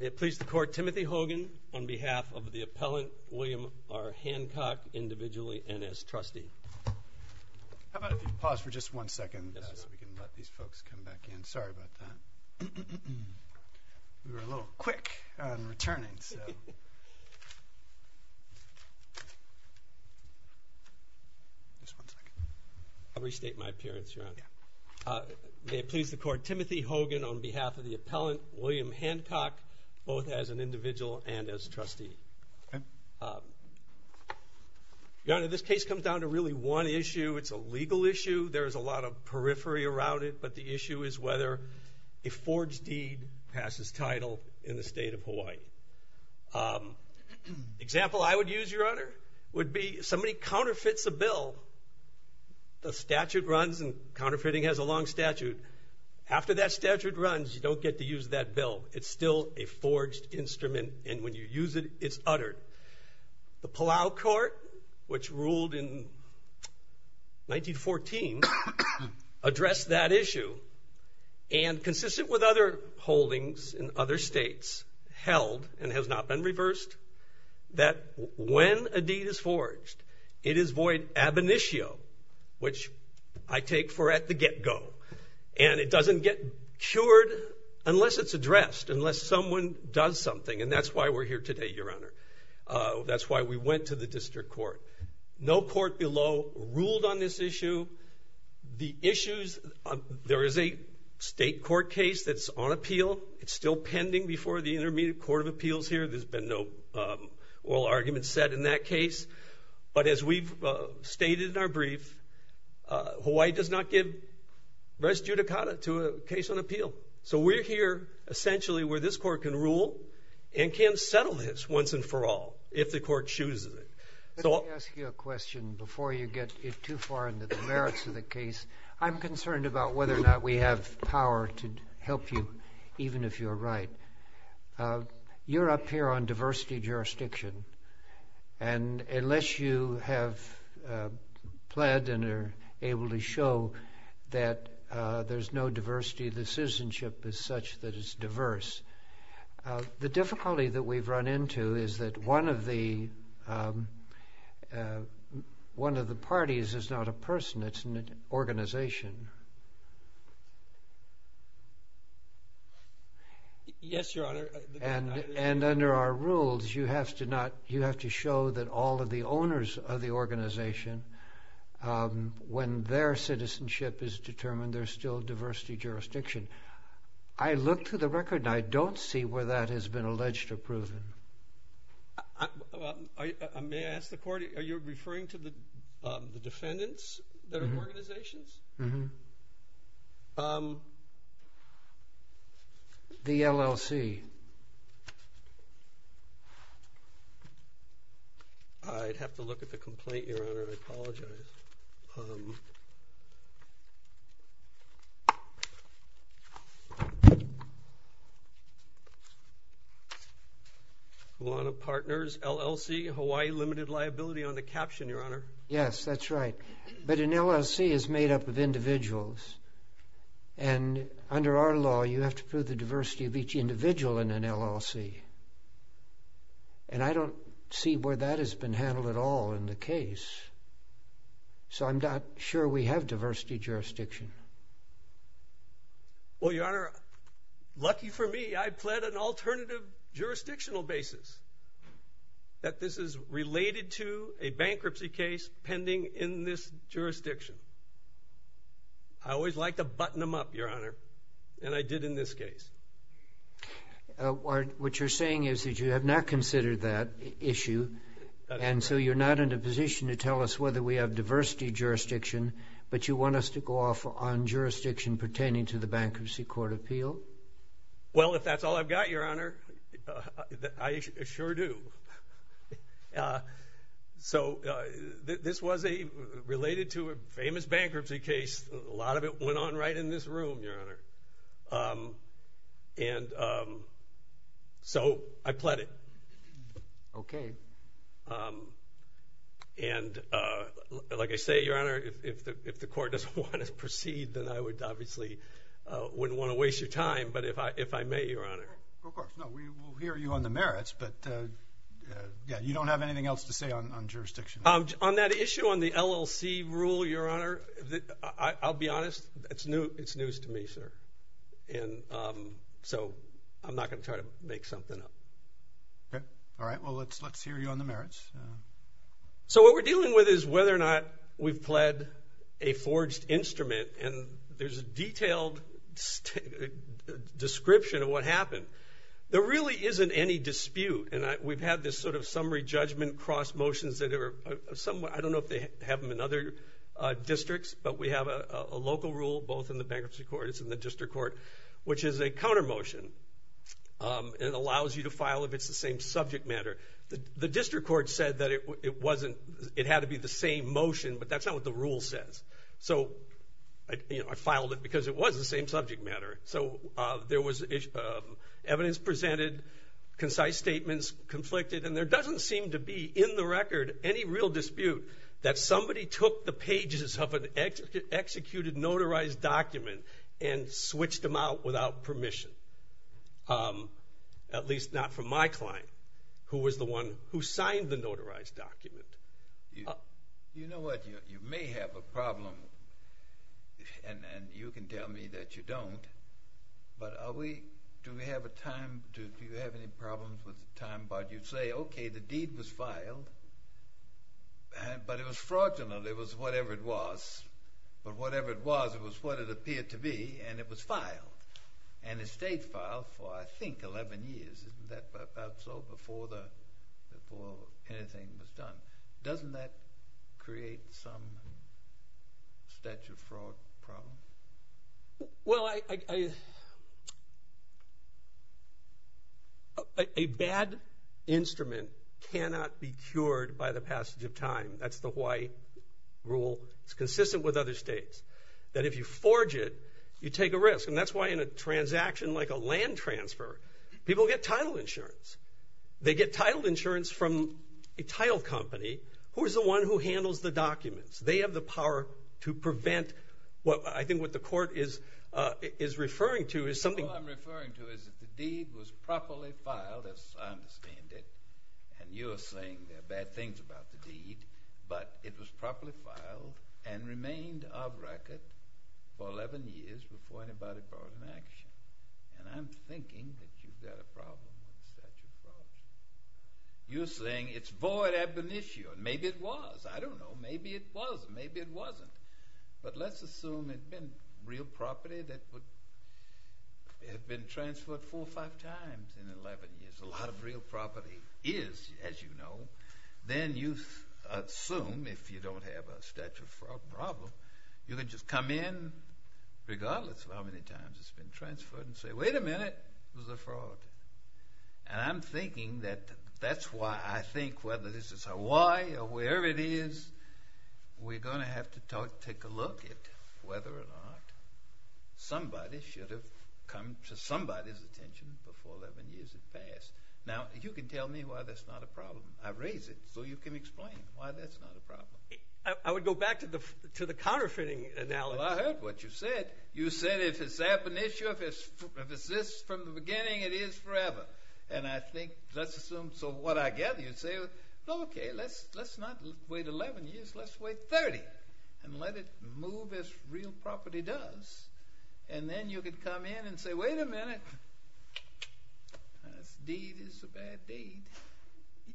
May it please the Court, Timothy Hogan, on behalf of the appellant William R. Hancock, individually and as trustee. How about if you pause for just one second so we can let these folks come back in. Sorry about that. We were a little quick on returning. Just one second. I'll restate my appearance, Your Honor. May it please the Court, Timothy Hogan, on behalf of the appellant William Hancock, both as an individual and as trustee. Your Honor, this case comes down to really one issue. It's a legal issue. There's a lot of periphery around it, but the issue is whether a forged deed passes title in the state of Hawaii. Example I would use, Your Honor, would be if somebody counterfeits a bill, the statute runs and counterfeiting has a long statute. After that statute runs, you don't get to use that bill. It's still a forged instrument and when you use it, it's uttered. The Palau Court, which ruled in 1914, addressed that issue and consistent with other holdings in other states, held and has not been reversed, that when a deed is forged, it is void ab initio, which I take for at the get-go. And it doesn't get cured unless it's addressed, unless someone does something. And that's why we're here today, Your Honor. That's why we went to the district court. No court below ruled on this issue. The issues, there is a state court case that's on appeal. It's still pending before the Intermediate Court of Appeals here. There's been no oral argument set in that case. But as we've stated in our brief, Hawaii does not give res judicata to a case on appeal. So we're here essentially where this court can rule and can settle this once and for all if the court chooses it. Let me ask you a question before you get too far into the merits of the case. I'm concerned about whether or not we have power to help you, even if you're right. You're up here on diversity jurisdiction. And unless you have pled and are able to show that there's no diversity, the citizenship is such that it's diverse. The difficulty that we've run into is that one of the parties is not a person. It's an organization. Yes, Your Honor. And under our rules, you have to show that all of the owners of the organization, when their citizenship is determined, there's still diversity jurisdiction. I look through the record and I don't see where that has been alleged or proven. May I ask the court, are you referring to the defendants that are organizations? The LLC. I'd have to look at the complaint, Your Honor. I apologize. Law and Partners, LLC, Hawaii limited liability on the caption, Your Honor. Yes, that's right. But an LLC is made up of individuals. And under our law, you have to prove the diversity of each individual in an LLC. And I don't see where that has been handled at all in the case. So I'm not sure we have diversity jurisdiction. Well, Your Honor, lucky for me, I pled an alternative jurisdictional basis that this is related to a bankruptcy case pending in this jurisdiction. I always like to button them up, Your Honor, and I did in this case. What you're saying is that you have not considered that issue, and so you're not in a position to tell us whether we have diversity jurisdiction, but you want us to go off on jurisdiction pertaining to the bankruptcy court appeal? Well, if that's all I've got, Your Honor, I sure do. So this was related to a famous bankruptcy case. A lot of it went on right in this room, Your Honor. And so I pled it. Okay. And like I say, Your Honor, if the court doesn't want to proceed, then I would obviously wouldn't want to waste your time. But if I may, Your Honor. Of course. No, we will hear you on the merits. But yeah, you don't have anything else to say on jurisdiction? On that issue on the LLC rule, Your Honor, I'll be honest, it's news to me, sir. And so I'm not going to try to make something up. Okay. All right. Well, let's hear you on the merits. So what we're dealing with is whether or not we've pled a forged instrument, and there's a detailed description of what happened. There really isn't any dispute, and we've had this sort of summary judgment cross motions that are somewhat – I don't know if they have them in other districts, but we have a local rule, both in the bankruptcy court, it's in the district court, which is a counter motion. It allows you to file if it's the same subject matter. The district court said that it had to be the same motion, but that's not what the rule says. So I filed it because it was the same subject matter. So there was evidence presented, concise statements conflicted, and there doesn't seem to be in the record any real dispute that somebody took the pages of an executed, notarized document and switched them out without permission, at least not from my client, who was the one who signed the notarized document. You know what? You may have a problem, and you can tell me that you don't, but are we – do we have a time – do you have any problems with time? But you say, okay, the deed was filed, but it was fraudulent. It was whatever it was, but whatever it was, it was what it appeared to be, and it was filed. And it stayed filed for, I think, 11 years. Isn't that about so before anything was done? Doesn't that create some statute of fraud problem? Well, I – a bad instrument cannot be cured by the passage of time. That's the Hawaii rule. It's consistent with other states, that if you forge it, you take a risk. And that's why in a transaction like a land transfer, people get title insurance. They get title insurance from a title company who is the one who handles the documents. They have the power to prevent what I think what the court is referring to is something – All I'm referring to is if the deed was properly filed, as I understand it, and you're saying there are bad things about the deed, but it was properly filed and remained off record for 11 years before anybody brought it into action. And I'm thinking that you've got a problem with statute of fraud. You're saying it's void ab initio. Maybe it was. I don't know. Maybe it was. Maybe it wasn't. But let's assume it had been real property that would – it had been transferred four or five times in 11 years. A lot of real property is, as you know. Then you assume, if you don't have a statute of fraud problem, you can just come in, regardless of how many times it's been transferred, and say, wait a minute, it was a fraud. And I'm thinking that that's why I think whether this is Hawaii or wherever it is, we're going to have to take a look at whether or not somebody should have come to somebody's attention before 11 years had passed. Now, you can tell me why that's not a problem. I raised it so you can explain why that's not a problem. I would go back to the counterfeiting analogy. Well, I heard what you said. You said if it's ab initio, if it's this from the beginning, it is forever. And I think let's assume – so what I get, you say, okay, let's not wait 11 years. Let's wait 30 and let it move as real property does. And then you could come in and say, wait a minute, this deed is a bad deed.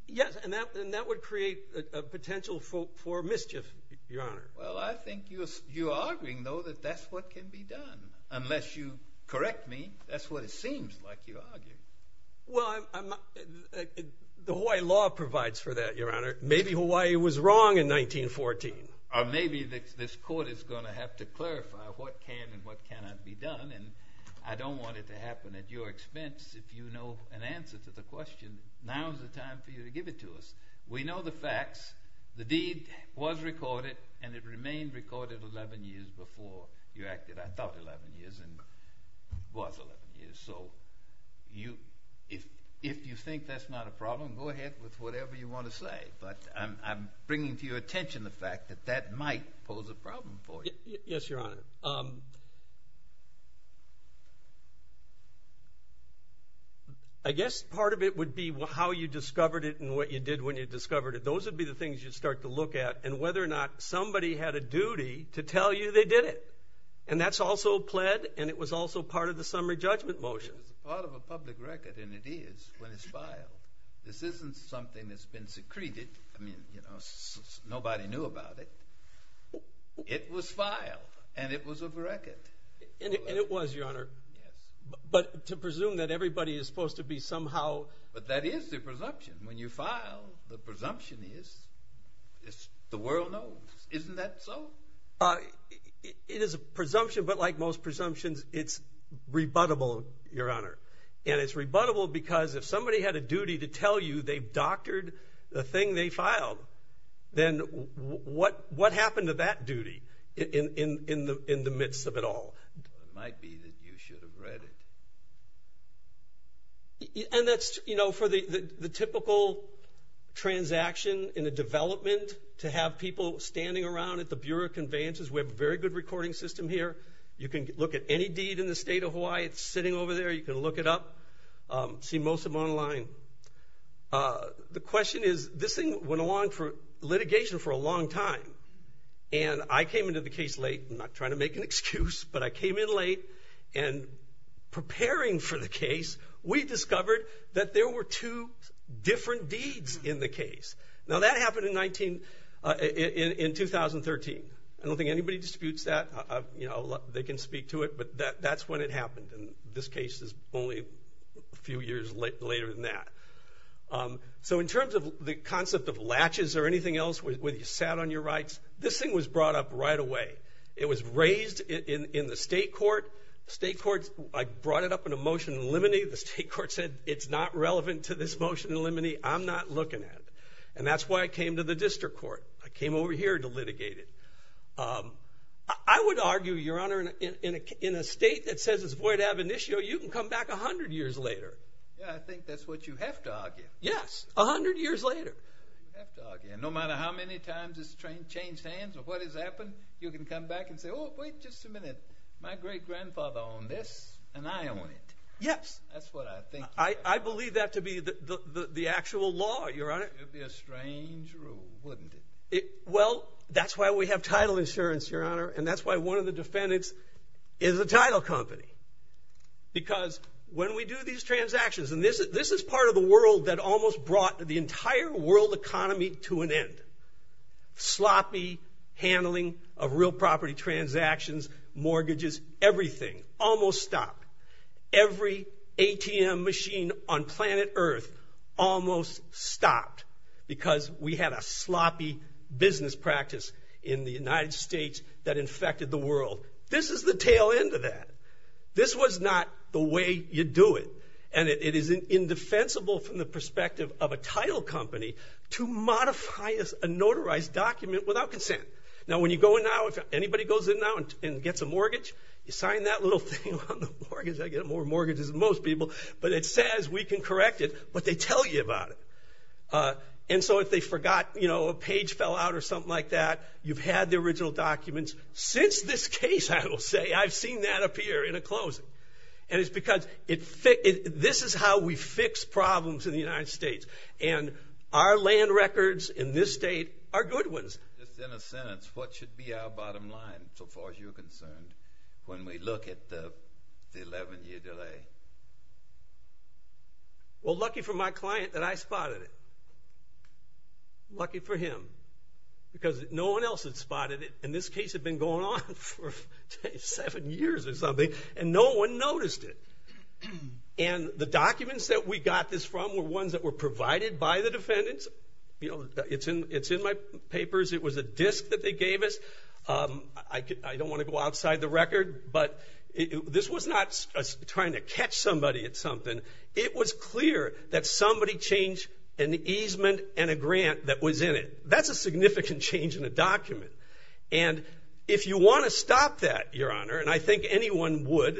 Yes, and that would create a potential for mischief, Your Honor. Well, I think you're arguing, though, that that's what can be done. Unless you correct me, that's what it seems like you're arguing. Well, the Hawaii law provides for that, Your Honor. Maybe Hawaii was wrong in 1914. Or maybe this court is going to have to clarify what can and what cannot be done. And I don't want it to happen at your expense. If you know an answer to the question, now is the time for you to give it to us. We know the facts. The deed was recorded and it remained recorded 11 years before you acted. I thought 11 years and it was 11 years. So if you think that's not a problem, go ahead with whatever you want to say. But I'm bringing to your attention the fact that that might pose a problem for you. Yes, Your Honor. I guess part of it would be how you discovered it and what you did when you discovered it. Those would be the things you'd start to look at. And whether or not somebody had a duty to tell you they did it. And that's also pled and it was also part of the summary judgment motion. It's part of a public record and it is when it's filed. This isn't something that's been secreted. I mean, you know, nobody knew about it. It was filed and it was a record. And it was, Your Honor. Yes. But to presume that everybody is supposed to be somehow. But that is the presumption. When you file, the presumption is the world knows. Isn't that so? It is a presumption, but like most presumptions, it's rebuttable, Your Honor. And it's rebuttable because if somebody had a duty to tell you they doctored the thing they filed, then what happened to that duty in the midst of it all? It might be that you should have read it. And that's, you know, for the typical transaction in a development, to have people standing around at the Bureau of Conveyances. We have a very good recording system here. You can look at any deed in the state of Hawaii. It's sitting over there. You can look it up, see most of them online. The question is, this thing went along for litigation for a long time. And I came into the case late. I'm not trying to make an excuse, but I came in late. And preparing for the case, we discovered that there were two different deeds in the case. Now, that happened in 2013. I don't think anybody disputes that. You know, they can speak to it, but that's when it happened. And this case is only a few years later than that. So in terms of the concept of latches or anything else, whether you sat on your rights, this thing was brought up right away. It was raised in the state court. I brought it up in a motion in limine. The state court said it's not relevant to this motion in limine. I'm not looking at it. And that's why I came to the district court. I came over here to litigate it. I would argue, Your Honor, in a state that says it's void ab initio, you can come back 100 years later. Yeah, I think that's what you have to argue. Yes, 100 years later. You have to argue. And no matter how many times it's changed hands or what has happened, you can come back and say, oh, wait just a minute. My great-grandfather owned this, and I own it. Yes. That's what I think. I believe that to be the actual law, Your Honor. It would be a strange rule, wouldn't it? Well, that's why we have title insurance, Your Honor, and that's why one of the defendants is a title company. Because when we do these transactions, and this is part of the world that almost brought the entire world economy to an end. Sloppy handling of real property transactions, mortgages, everything. Almost stopped. Every ATM machine on planet Earth almost stopped because we had a sloppy business practice in the United States that infected the world. This is the tail end of that. This was not the way you do it. And it is indefensible from the perspective of a title company to modify a notarized document without consent. Now, when you go in now, if anybody goes in now and gets a mortgage, you sign that little thing on the mortgage. I get more mortgages than most people. But it says we can correct it, but they tell you about it. And so if they forgot, you know, a page fell out or something like that, you've had the original documents. Since this case, I will say, I've seen that appear in a closing. And it's because this is how we fix problems in the United States. And our land records in this state are good ones. Just in a sentence, what should be our bottom line, so far as you're concerned, when we look at the 11-year delay? Well, lucky for my client that I spotted it. Lucky for him. Because no one else had spotted it. And this case had been going on for seven years or something, and no one noticed it. And the documents that we got this from were ones that were provided by the defendants. It's in my papers. It was a disk that they gave us. I don't want to go outside the record, but this was not trying to catch somebody at something. It was clear that somebody changed an easement and a grant that was in it. That's a significant change in a document. And if you want to stop that, Your Honor, and I think anyone would,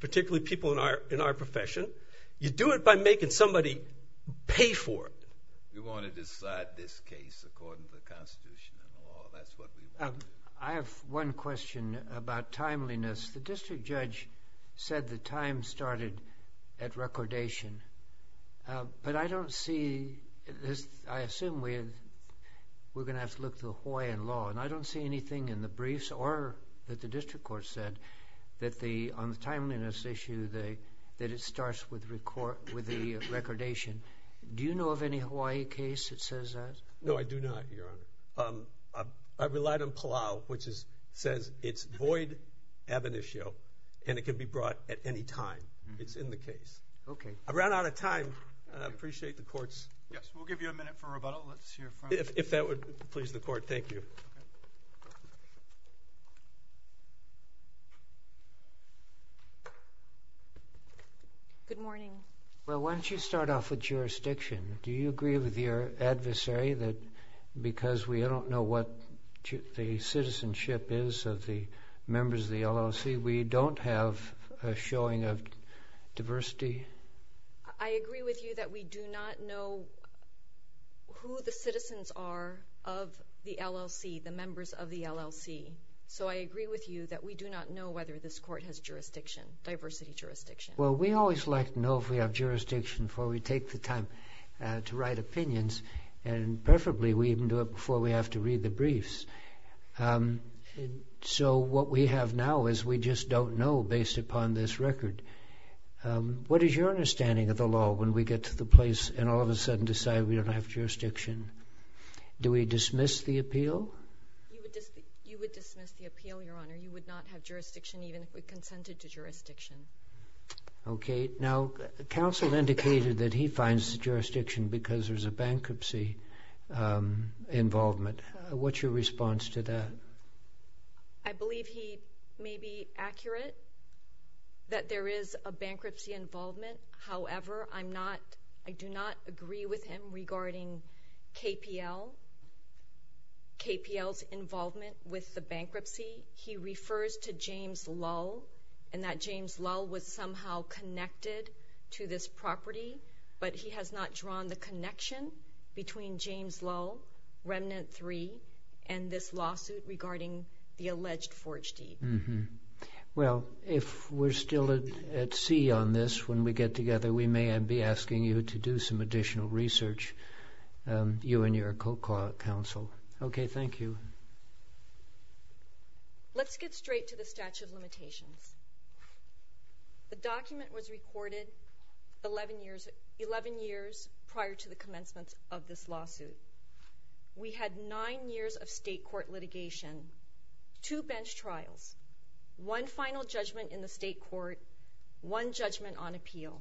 particularly people in our profession, you do it by making somebody pay for it. We want to decide this case according to the Constitution and the law. That's what we want. I have one question about timeliness. The district judge said the time started at recordation. But I don't see this. I assume we're going to have to look to the Hawaiian law, and I don't see anything in the briefs or that the district court said on the timeliness issue that it starts with the recordation. Do you know of any Hawaii case that says that? No, I do not, Your Honor. I relied on Palau, which says it's void ab initio, and it can be brought at any time. It's in the case. Okay. I ran out of time. I appreciate the courts. Yes, we'll give you a minute for rebuttal. If that would please the court, thank you. Good morning. Good morning. Well, why don't you start off with jurisdiction? Do you agree with your adversary that because we don't know what the citizenship is of the members of the LLC, we don't have a showing of diversity? I agree with you that we do not know who the citizens are of the LLC, the members of the LLC. So I agree with you that we do not know whether this court has jurisdiction, diversity jurisdiction. Well, we always like to know if we have jurisdiction before we take the time to write opinions, and preferably we even do it before we have to read the briefs. So what we have now is we just don't know based upon this record. What is your understanding of the law when we get to the place and all of a sudden decide we don't have jurisdiction? Do we dismiss the appeal? You would dismiss the appeal, Your Honor. You would not have jurisdiction even if we consented to jurisdiction. Okay. Now, counsel indicated that he finds the jurisdiction because there's a bankruptcy involvement. What's your response to that? I believe he may be accurate that there is a bankruptcy involvement. However, I do not agree with him regarding KPL, KPL's involvement with the bankruptcy. He refers to James Lull and that James Lull was somehow connected to this property, but he has not drawn the connection between James Lull, Remnant 3, and this lawsuit regarding the alleged forge deed. Well, if we're still at sea on this when we get together, we may be asking you to do some additional research, you and your counsel. Okay. Thank you. Let's get straight to the statute of limitations. The document was recorded 11 years prior to the commencement of this lawsuit. We had nine years of state court litigation, two bench trials, one final judgment in the state court, one judgment on appeal.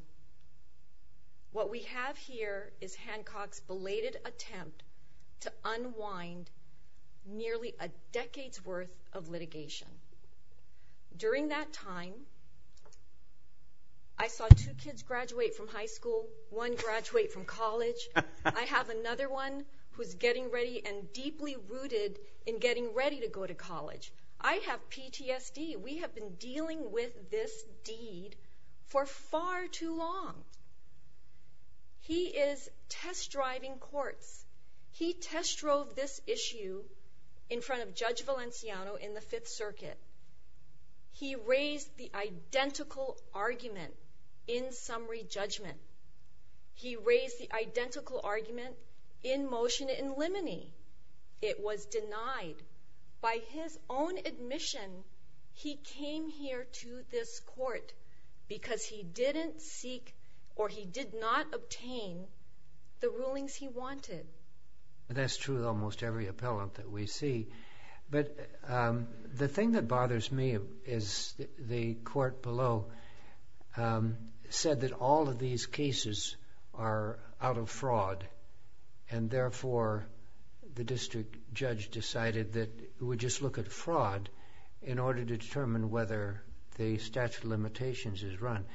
What we have here is Hancock's belated attempt to unwind nearly a decade's worth of litigation. During that time, I saw two kids graduate from high school, one graduate from college. I have another one who's getting ready and deeply rooted in getting ready to go to college. I have PTSD. We have been dealing with this deed for far too long. He is test-driving courts. He test-drove this issue in front of Judge Valenciano in the Fifth Circuit. He raised the identical argument in summary judgment. He raised the identical argument in motion in limine. It was denied. By his own admission, he came here to this court because he didn't seek or he did not obtain the rulings he wanted. That's true of almost every appellant that we see. But the thing that bothers me is the court below said that all of these cases are out of fraud. Therefore, the district judge decided that it would just look at fraud in order to determine whether the statute of limitations is run.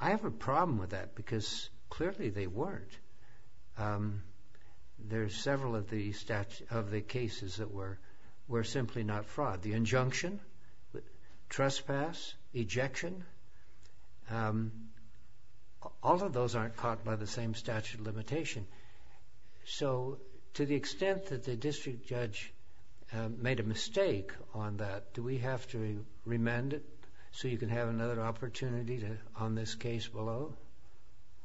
I have a problem with that because clearly they weren't. There are several of the cases that were simply not fraud. The injunction, trespass, ejection, all of those aren't caught by the same statute of limitation. To the extent that the district judge made a mistake on that, do we have to remand it so you can have another opportunity on this case below?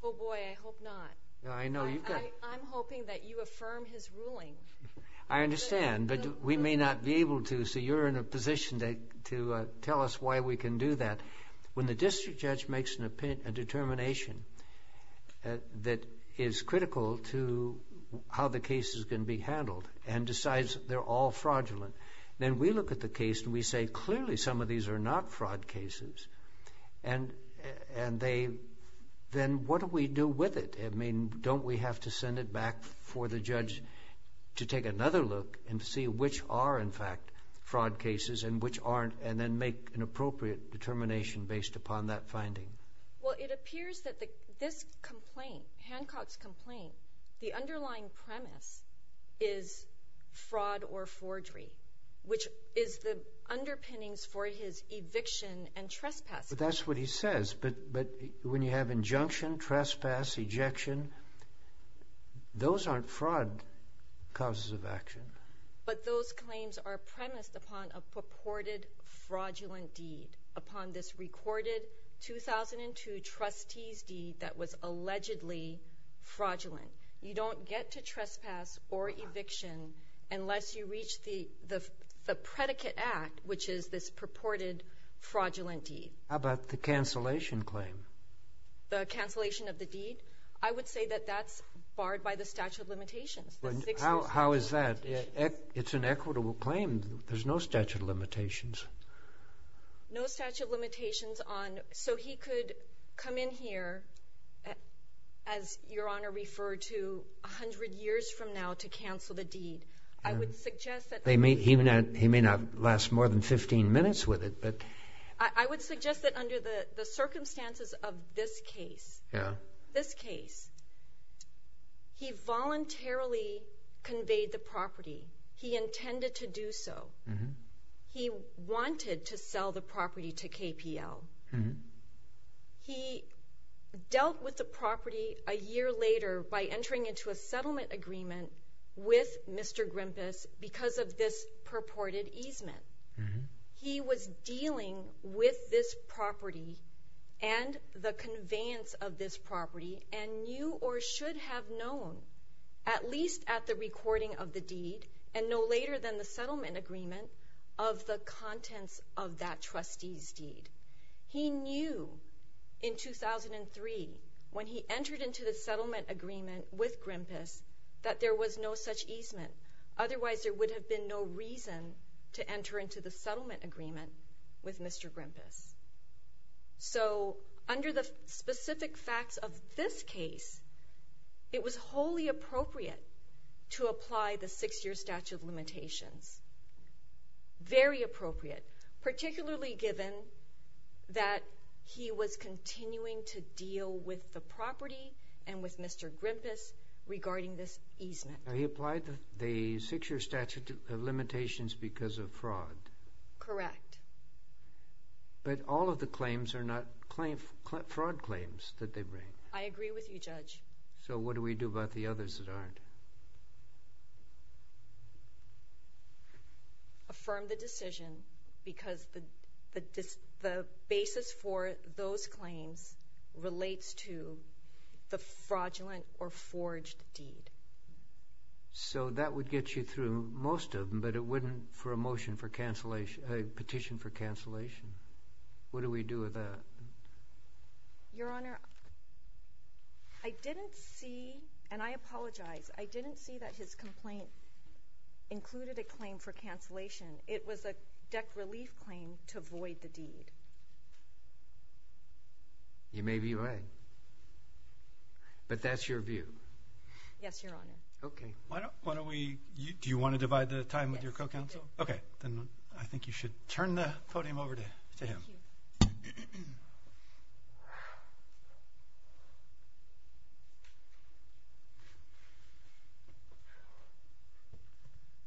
Boy, I hope not. I'm hoping that you affirm his ruling. I understand, but we may not be able to. So you're in a position to tell us why we can do that. When the district judge makes a determination that is critical to how the case is going to be handled and decides they're all fraudulent, then we look at the case and we say clearly some of these are not fraud cases. Then what do we do with it? Don't we have to send it back for the judge to take another look and see which are, in fact, fraud cases and then make an appropriate determination based upon that finding? Well, it appears that this complaint, Hancock's complaint, the underlying premise is fraud or forgery, which is the underpinnings for his eviction and trespass. That's what he says, but when you have injunction, trespass, ejection, those aren't fraud causes of action. But those claims are premised upon a purported fraudulent deed, upon this recorded 2002 trustee's deed that was allegedly fraudulent. You don't get to trespass or eviction unless you reach the predicate act, which is this purported fraudulent deed. How about the cancellation claim? The cancellation of the deed? I would say that that's barred by the statute of limitations. How is that? It's an equitable claim. There's no statute of limitations. No statute of limitations. So he could come in here, as Your Honor referred to, 100 years from now to cancel the deed. He may not last more than 15 minutes with it. I would suggest that under the circumstances of this case, he voluntarily conveyed the property. He intended to do so. He wanted to sell the property to KPL. He dealt with the property a year later by entering into a settlement agreement with Mr. Grimpus because of this purported easement. He was dealing with this property and the conveyance of this property and knew or should have known, at least at the recording of the deed, and no later than the settlement agreement, of the contents of that trustee's deed. He knew in 2003, when he entered into the settlement agreement with Grimpus, that there was no such easement. Otherwise, there would have been no reason to enter into the settlement agreement with Mr. Grimpus. So under the specific facts of this case, it was wholly appropriate to apply the six-year statute of limitations. Very appropriate, particularly given that he was continuing to deal with the property and with Mr. Grimpus regarding this easement. He applied the six-year statute of limitations because of fraud. Correct. But all of the claims are not fraud claims that they bring. I agree with you, Judge. So what do we do about the others that aren't? Affirm the decision because the basis for those claims relates to the fraudulent or forged deed. So that would get you through most of them, but it wouldn't for a petition for cancellation. What do we do with that? Your Honor, I didn't see, and I apologize, I didn't see that his complaint included a claim for cancellation. It was a deck relief claim to avoid the deed. You may be right, but that's your view. Yes, Your Honor. Okay. Do you want to divide the time with your co-counsel? Yes. Okay. Then I think you should turn the podium over to him. Thank you.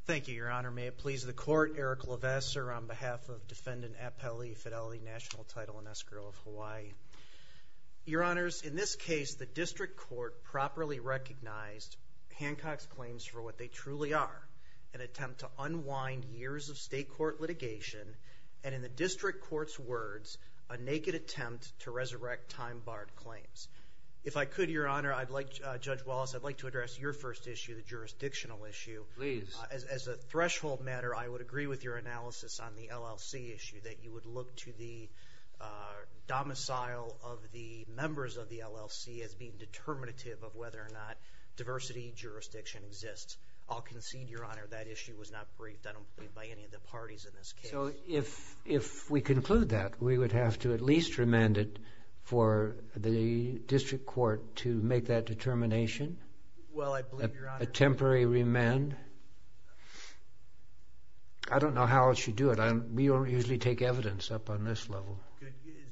Thank you, Your Honor. May it please the Court, Eric Levesseur on behalf of Defendant Appellee Fidelity National Title and Escrow of Hawaii. Your Honors, in this case, the district court properly recognized Hancock's claims for what they truly are, an attempt to unwind years of state court litigation, and in the district court's words, a naked attempt to resurrect time-barred claims. If I could, Your Honor, I'd like, Judge Wallace, I'd like to address your first issue, the jurisdictional issue. Please. As a threshold matter, I would agree with your analysis on the LLC issue, that you would look to the domicile of the members of the LLC as being determinative of whether or not diversity jurisdiction exists. I'll concede, Your Honor, that issue was not briefed, I don't believe, by any of the parties in this case. So if we conclude that, we would have to at least remand it for the district court to make that determination? Well, I believe, Your Honor. A temporary remand? I don't know how else you do it. We don't usually take evidence up on this level.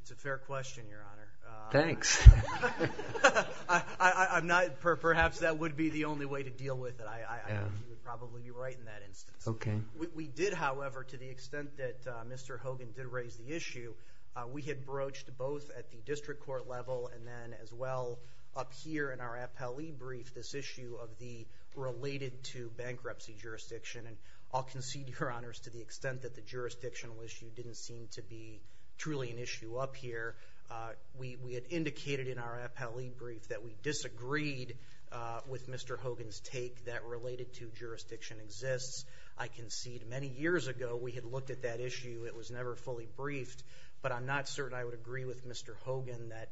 It's a fair question, Your Honor. Thanks. Perhaps that would be the only way to deal with it. I think you would probably be right in that instance. Okay. We did, however, to the extent that Mr. Hogan did raise the issue, we had broached both at the district court level and then as well up here in our appellee brief this issue of the related to bankruptcy jurisdiction. And I'll concede, Your Honor, to the extent that the jurisdictional issue didn't seem to be truly an issue up here. We had indicated in our appellee brief that we disagreed with Mr. Hogan's take that related to jurisdiction exists. I concede many years ago we had looked at that issue. It was never fully briefed. But I'm not certain I would agree with Mr. Hogan that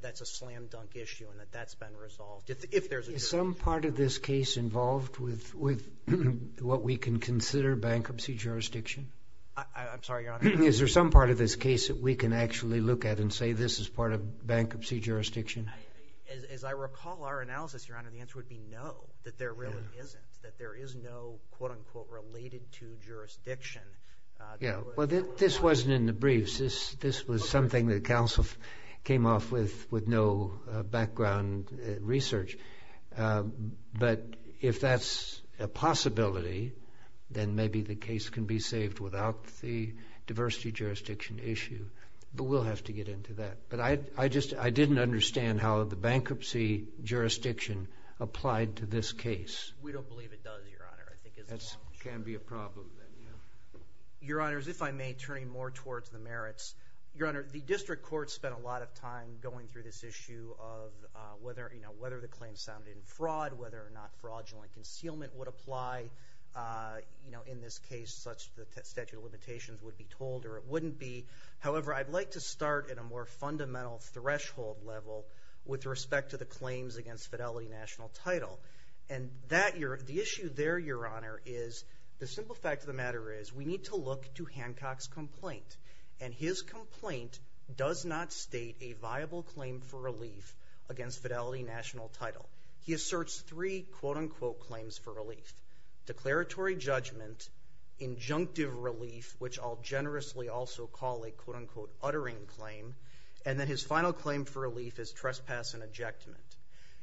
that's a slam-dunk issue and that that's been resolved. Is some part of this case involved with what we can consider bankruptcy jurisdiction? I'm sorry, Your Honor. Is there some part of this case that we can actually look at and say this is part of bankruptcy jurisdiction? As I recall our analysis, Your Honor, the answer would be no, that there really isn't, that there is no quote-unquote related to jurisdiction. Yeah. Well, this wasn't in the briefs. This was something that counsel came off with with no background research. But if that's a possibility, then maybe the case can be saved without the diversity jurisdiction issue. But we'll have to get into that. But I didn't understand how the bankruptcy jurisdiction applied to this case. We don't believe it does, Your Honor. That can be a problem. Your Honors, if I may, turning more towards the merits. Your Honor, the district court spent a lot of time going through this issue of whether the claim sounded in fraud, whether or not fraudulent concealment would apply in this case, such that statute of limitations would be told, or it wouldn't be. However, I'd like to start at a more fundamental threshold level with respect to the claims against fidelity national title. The issue there, Your Honor, is the simple fact of the matter is we need to look to Hancock's complaint. And his complaint does not state a viable claim for relief against fidelity national title. He asserts three quote-unquote claims for relief. Declaratory judgment, injunctive relief, which I'll generously also call a quote-unquote uttering claim, and then his final claim for relief is trespass and ejectment.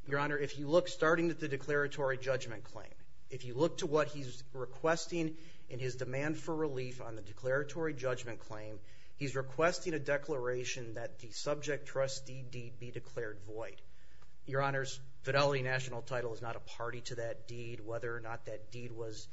Your Honor, if you look starting at the declaratory judgment claim, if you look to what he's requesting in his demand for relief on the declaratory judgment claim, he's requesting a declaration that the subject trustee deed be declared void. Your Honors, fidelity national title is not a party to that deed. Whether or not that deed was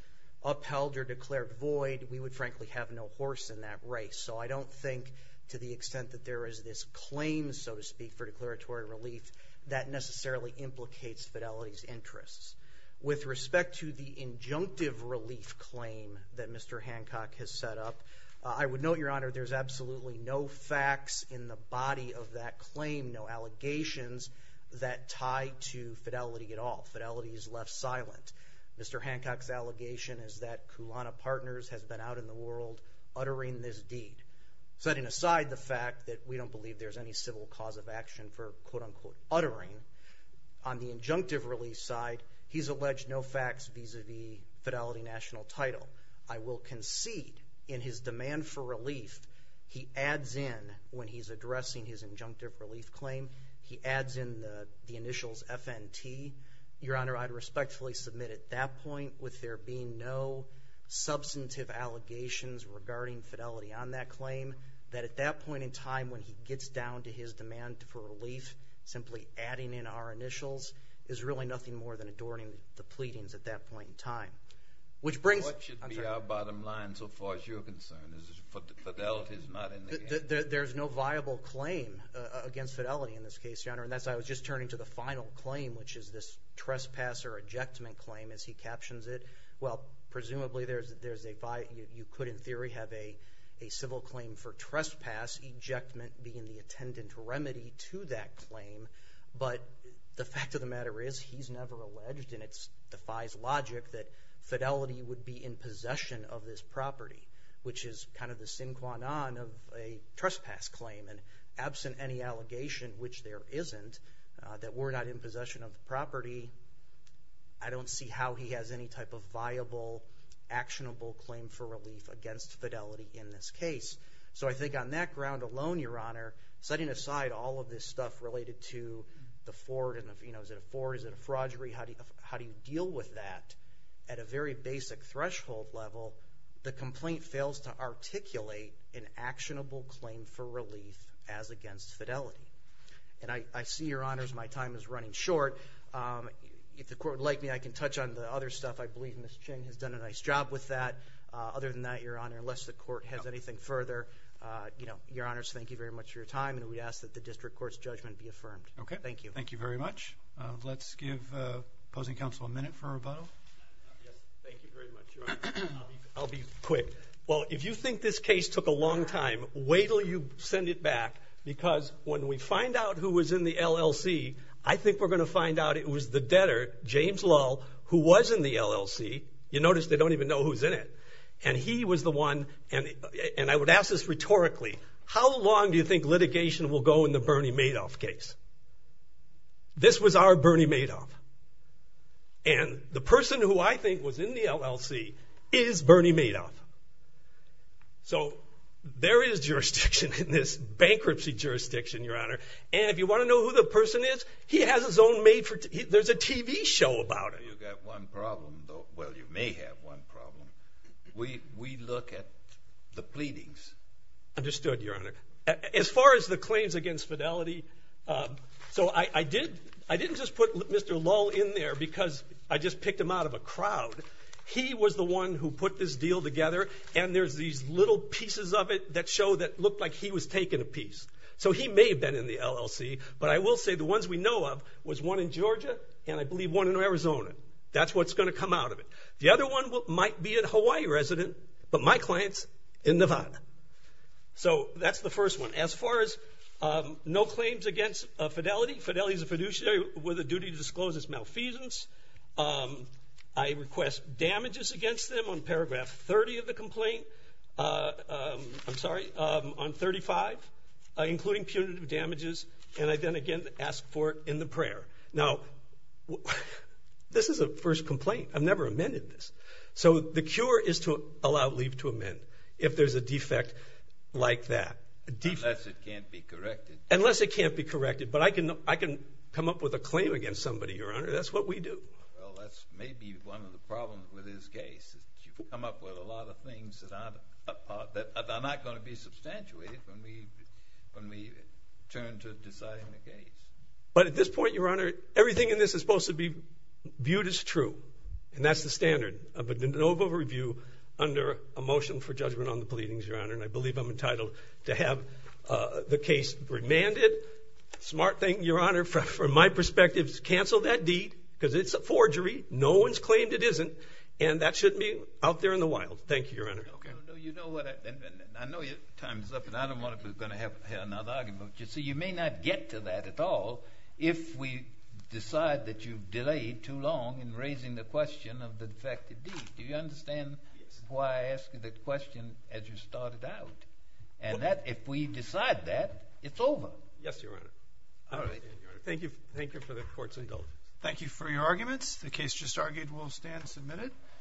upheld or declared void, we would frankly have no horse in that race. So I don't think to the extent that there is this claim, so to speak, for declaratory relief, that necessarily implicates fidelity's interests. With respect to the injunctive relief claim that Mr. Hancock has set up, I would note, Your Honor, there's absolutely no facts in the body of that claim, no allegations that tie to fidelity at all. Fidelity is left silent. Mr. Hancock's allegation is that Kulana Partners has been out in the world uttering this deed, setting aside the fact that we don't believe there's any civil cause of action for quote-unquote uttering. On the injunctive relief side, he's alleged no facts vis-à-vis fidelity national title. I will concede in his demand for relief, he adds in when he's addressing his injunctive relief claim, he adds in the initials FNT. Your Honor, I'd respectfully submit at that point, with there being no substantive allegations regarding fidelity on that claim, that at that point in time when he gets down to his demand for relief, simply adding in our initials is really nothing more than adorning the pleadings at that point in time. What should be our bottom line so far as you're concerned? Fidelity's not in the game? Your Honor, I was just turning to the final claim, which is this trespasser ejectment claim as he captions it. Well, presumably you could in theory have a civil claim for trespass, ejectment being the attendant remedy to that claim. But the fact of the matter is he's never alleged, and it defies logic that fidelity would be in possession of this property, which is kind of the sine qua non of a trespass claim. And absent any allegation, which there isn't, that we're not in possession of the property, I don't see how he has any type of viable, actionable claim for relief against fidelity in this case. So I think on that ground alone, Your Honor, setting aside all of this stuff related to the fraud, is it a fraud, is it a fraudury, how do you deal with that at a very basic threshold level, until the complaint fails to articulate an actionable claim for relief as against fidelity? And I see, Your Honors, my time is running short. If the Court would like me, I can touch on the other stuff. I believe Ms. Ching has done a nice job with that. Other than that, Your Honor, unless the Court has anything further, Your Honors, thank you very much for your time, and we ask that the District Court's judgment be affirmed. Thank you. Thank you very much. Let's give opposing counsel a minute for a rebuttal. Thank you very much, Your Honor. I'll be quick. Well, if you think this case took a long time, wait until you send it back, because when we find out who was in the LLC, I think we're going to find out it was the debtor, James Lull, who was in the LLC. You notice they don't even know who's in it. And he was the one, and I would ask this rhetorically, how long do you think litigation will go in the Bernie Madoff case? This was our Bernie Madoff. And the person who I think was in the LLC is Bernie Madoff. So there is jurisdiction in this bankruptcy jurisdiction, Your Honor. And if you want to know who the person is, he has his own made for TV. There's a TV show about it. You've got one problem, though. Well, you may have one problem. We look at the pleadings. Understood, Your Honor. As far as the claims against Fidelity, so I didn't just put Mr. Lull in there because I just picked him out of a crowd. He was the one who put this deal together, and there's these little pieces of it that show that it looked like he was taking a piece. So he may have been in the LLC, but I will say the ones we know of was one in Georgia and I believe one in Arizona. That's what's going to come out of it. The other one might be a Hawaii resident, but my client's in Nevada. So that's the first one. As far as no claims against Fidelity, Fidelity is a fiduciary with a duty to disclose its malfeasance. I request damages against them on paragraph 30 of the complaint. I'm sorry, on 35, including punitive damages. And I then again ask for it in the prayer. Now, this is a first complaint. I've never amended this. So the cure is to allow leave to amend if there's a defect like that. Unless it can't be corrected. Unless it can't be corrected. But I can come up with a claim against somebody, Your Honor. That's what we do. Well, that's maybe one of the problems with this case is that you come up with a lot of things that are not going to be substantiated when we turn to deciding the case. But at this point, Your Honor, everything in this is supposed to be viewed as true, and I believe I'm entitled to have the case remanded. Smart thing, Your Honor, from my perspective, is to cancel that deed. Because it's a forgery. No one's claimed it isn't. And that shouldn't be out there in the wild. Thank you, Your Honor. I know your time's up, and I don't want to have another argument with you. So you may not get to that at all if we decide that you've delayed too long in raising the question of the defective deed. Do you understand why I asked you that question as you started out? And if we decide that, it's over. Yes, Your Honor. All right. Thank you for the court's indulgence. Thank you for your arguments. The case just argued will stand submitted.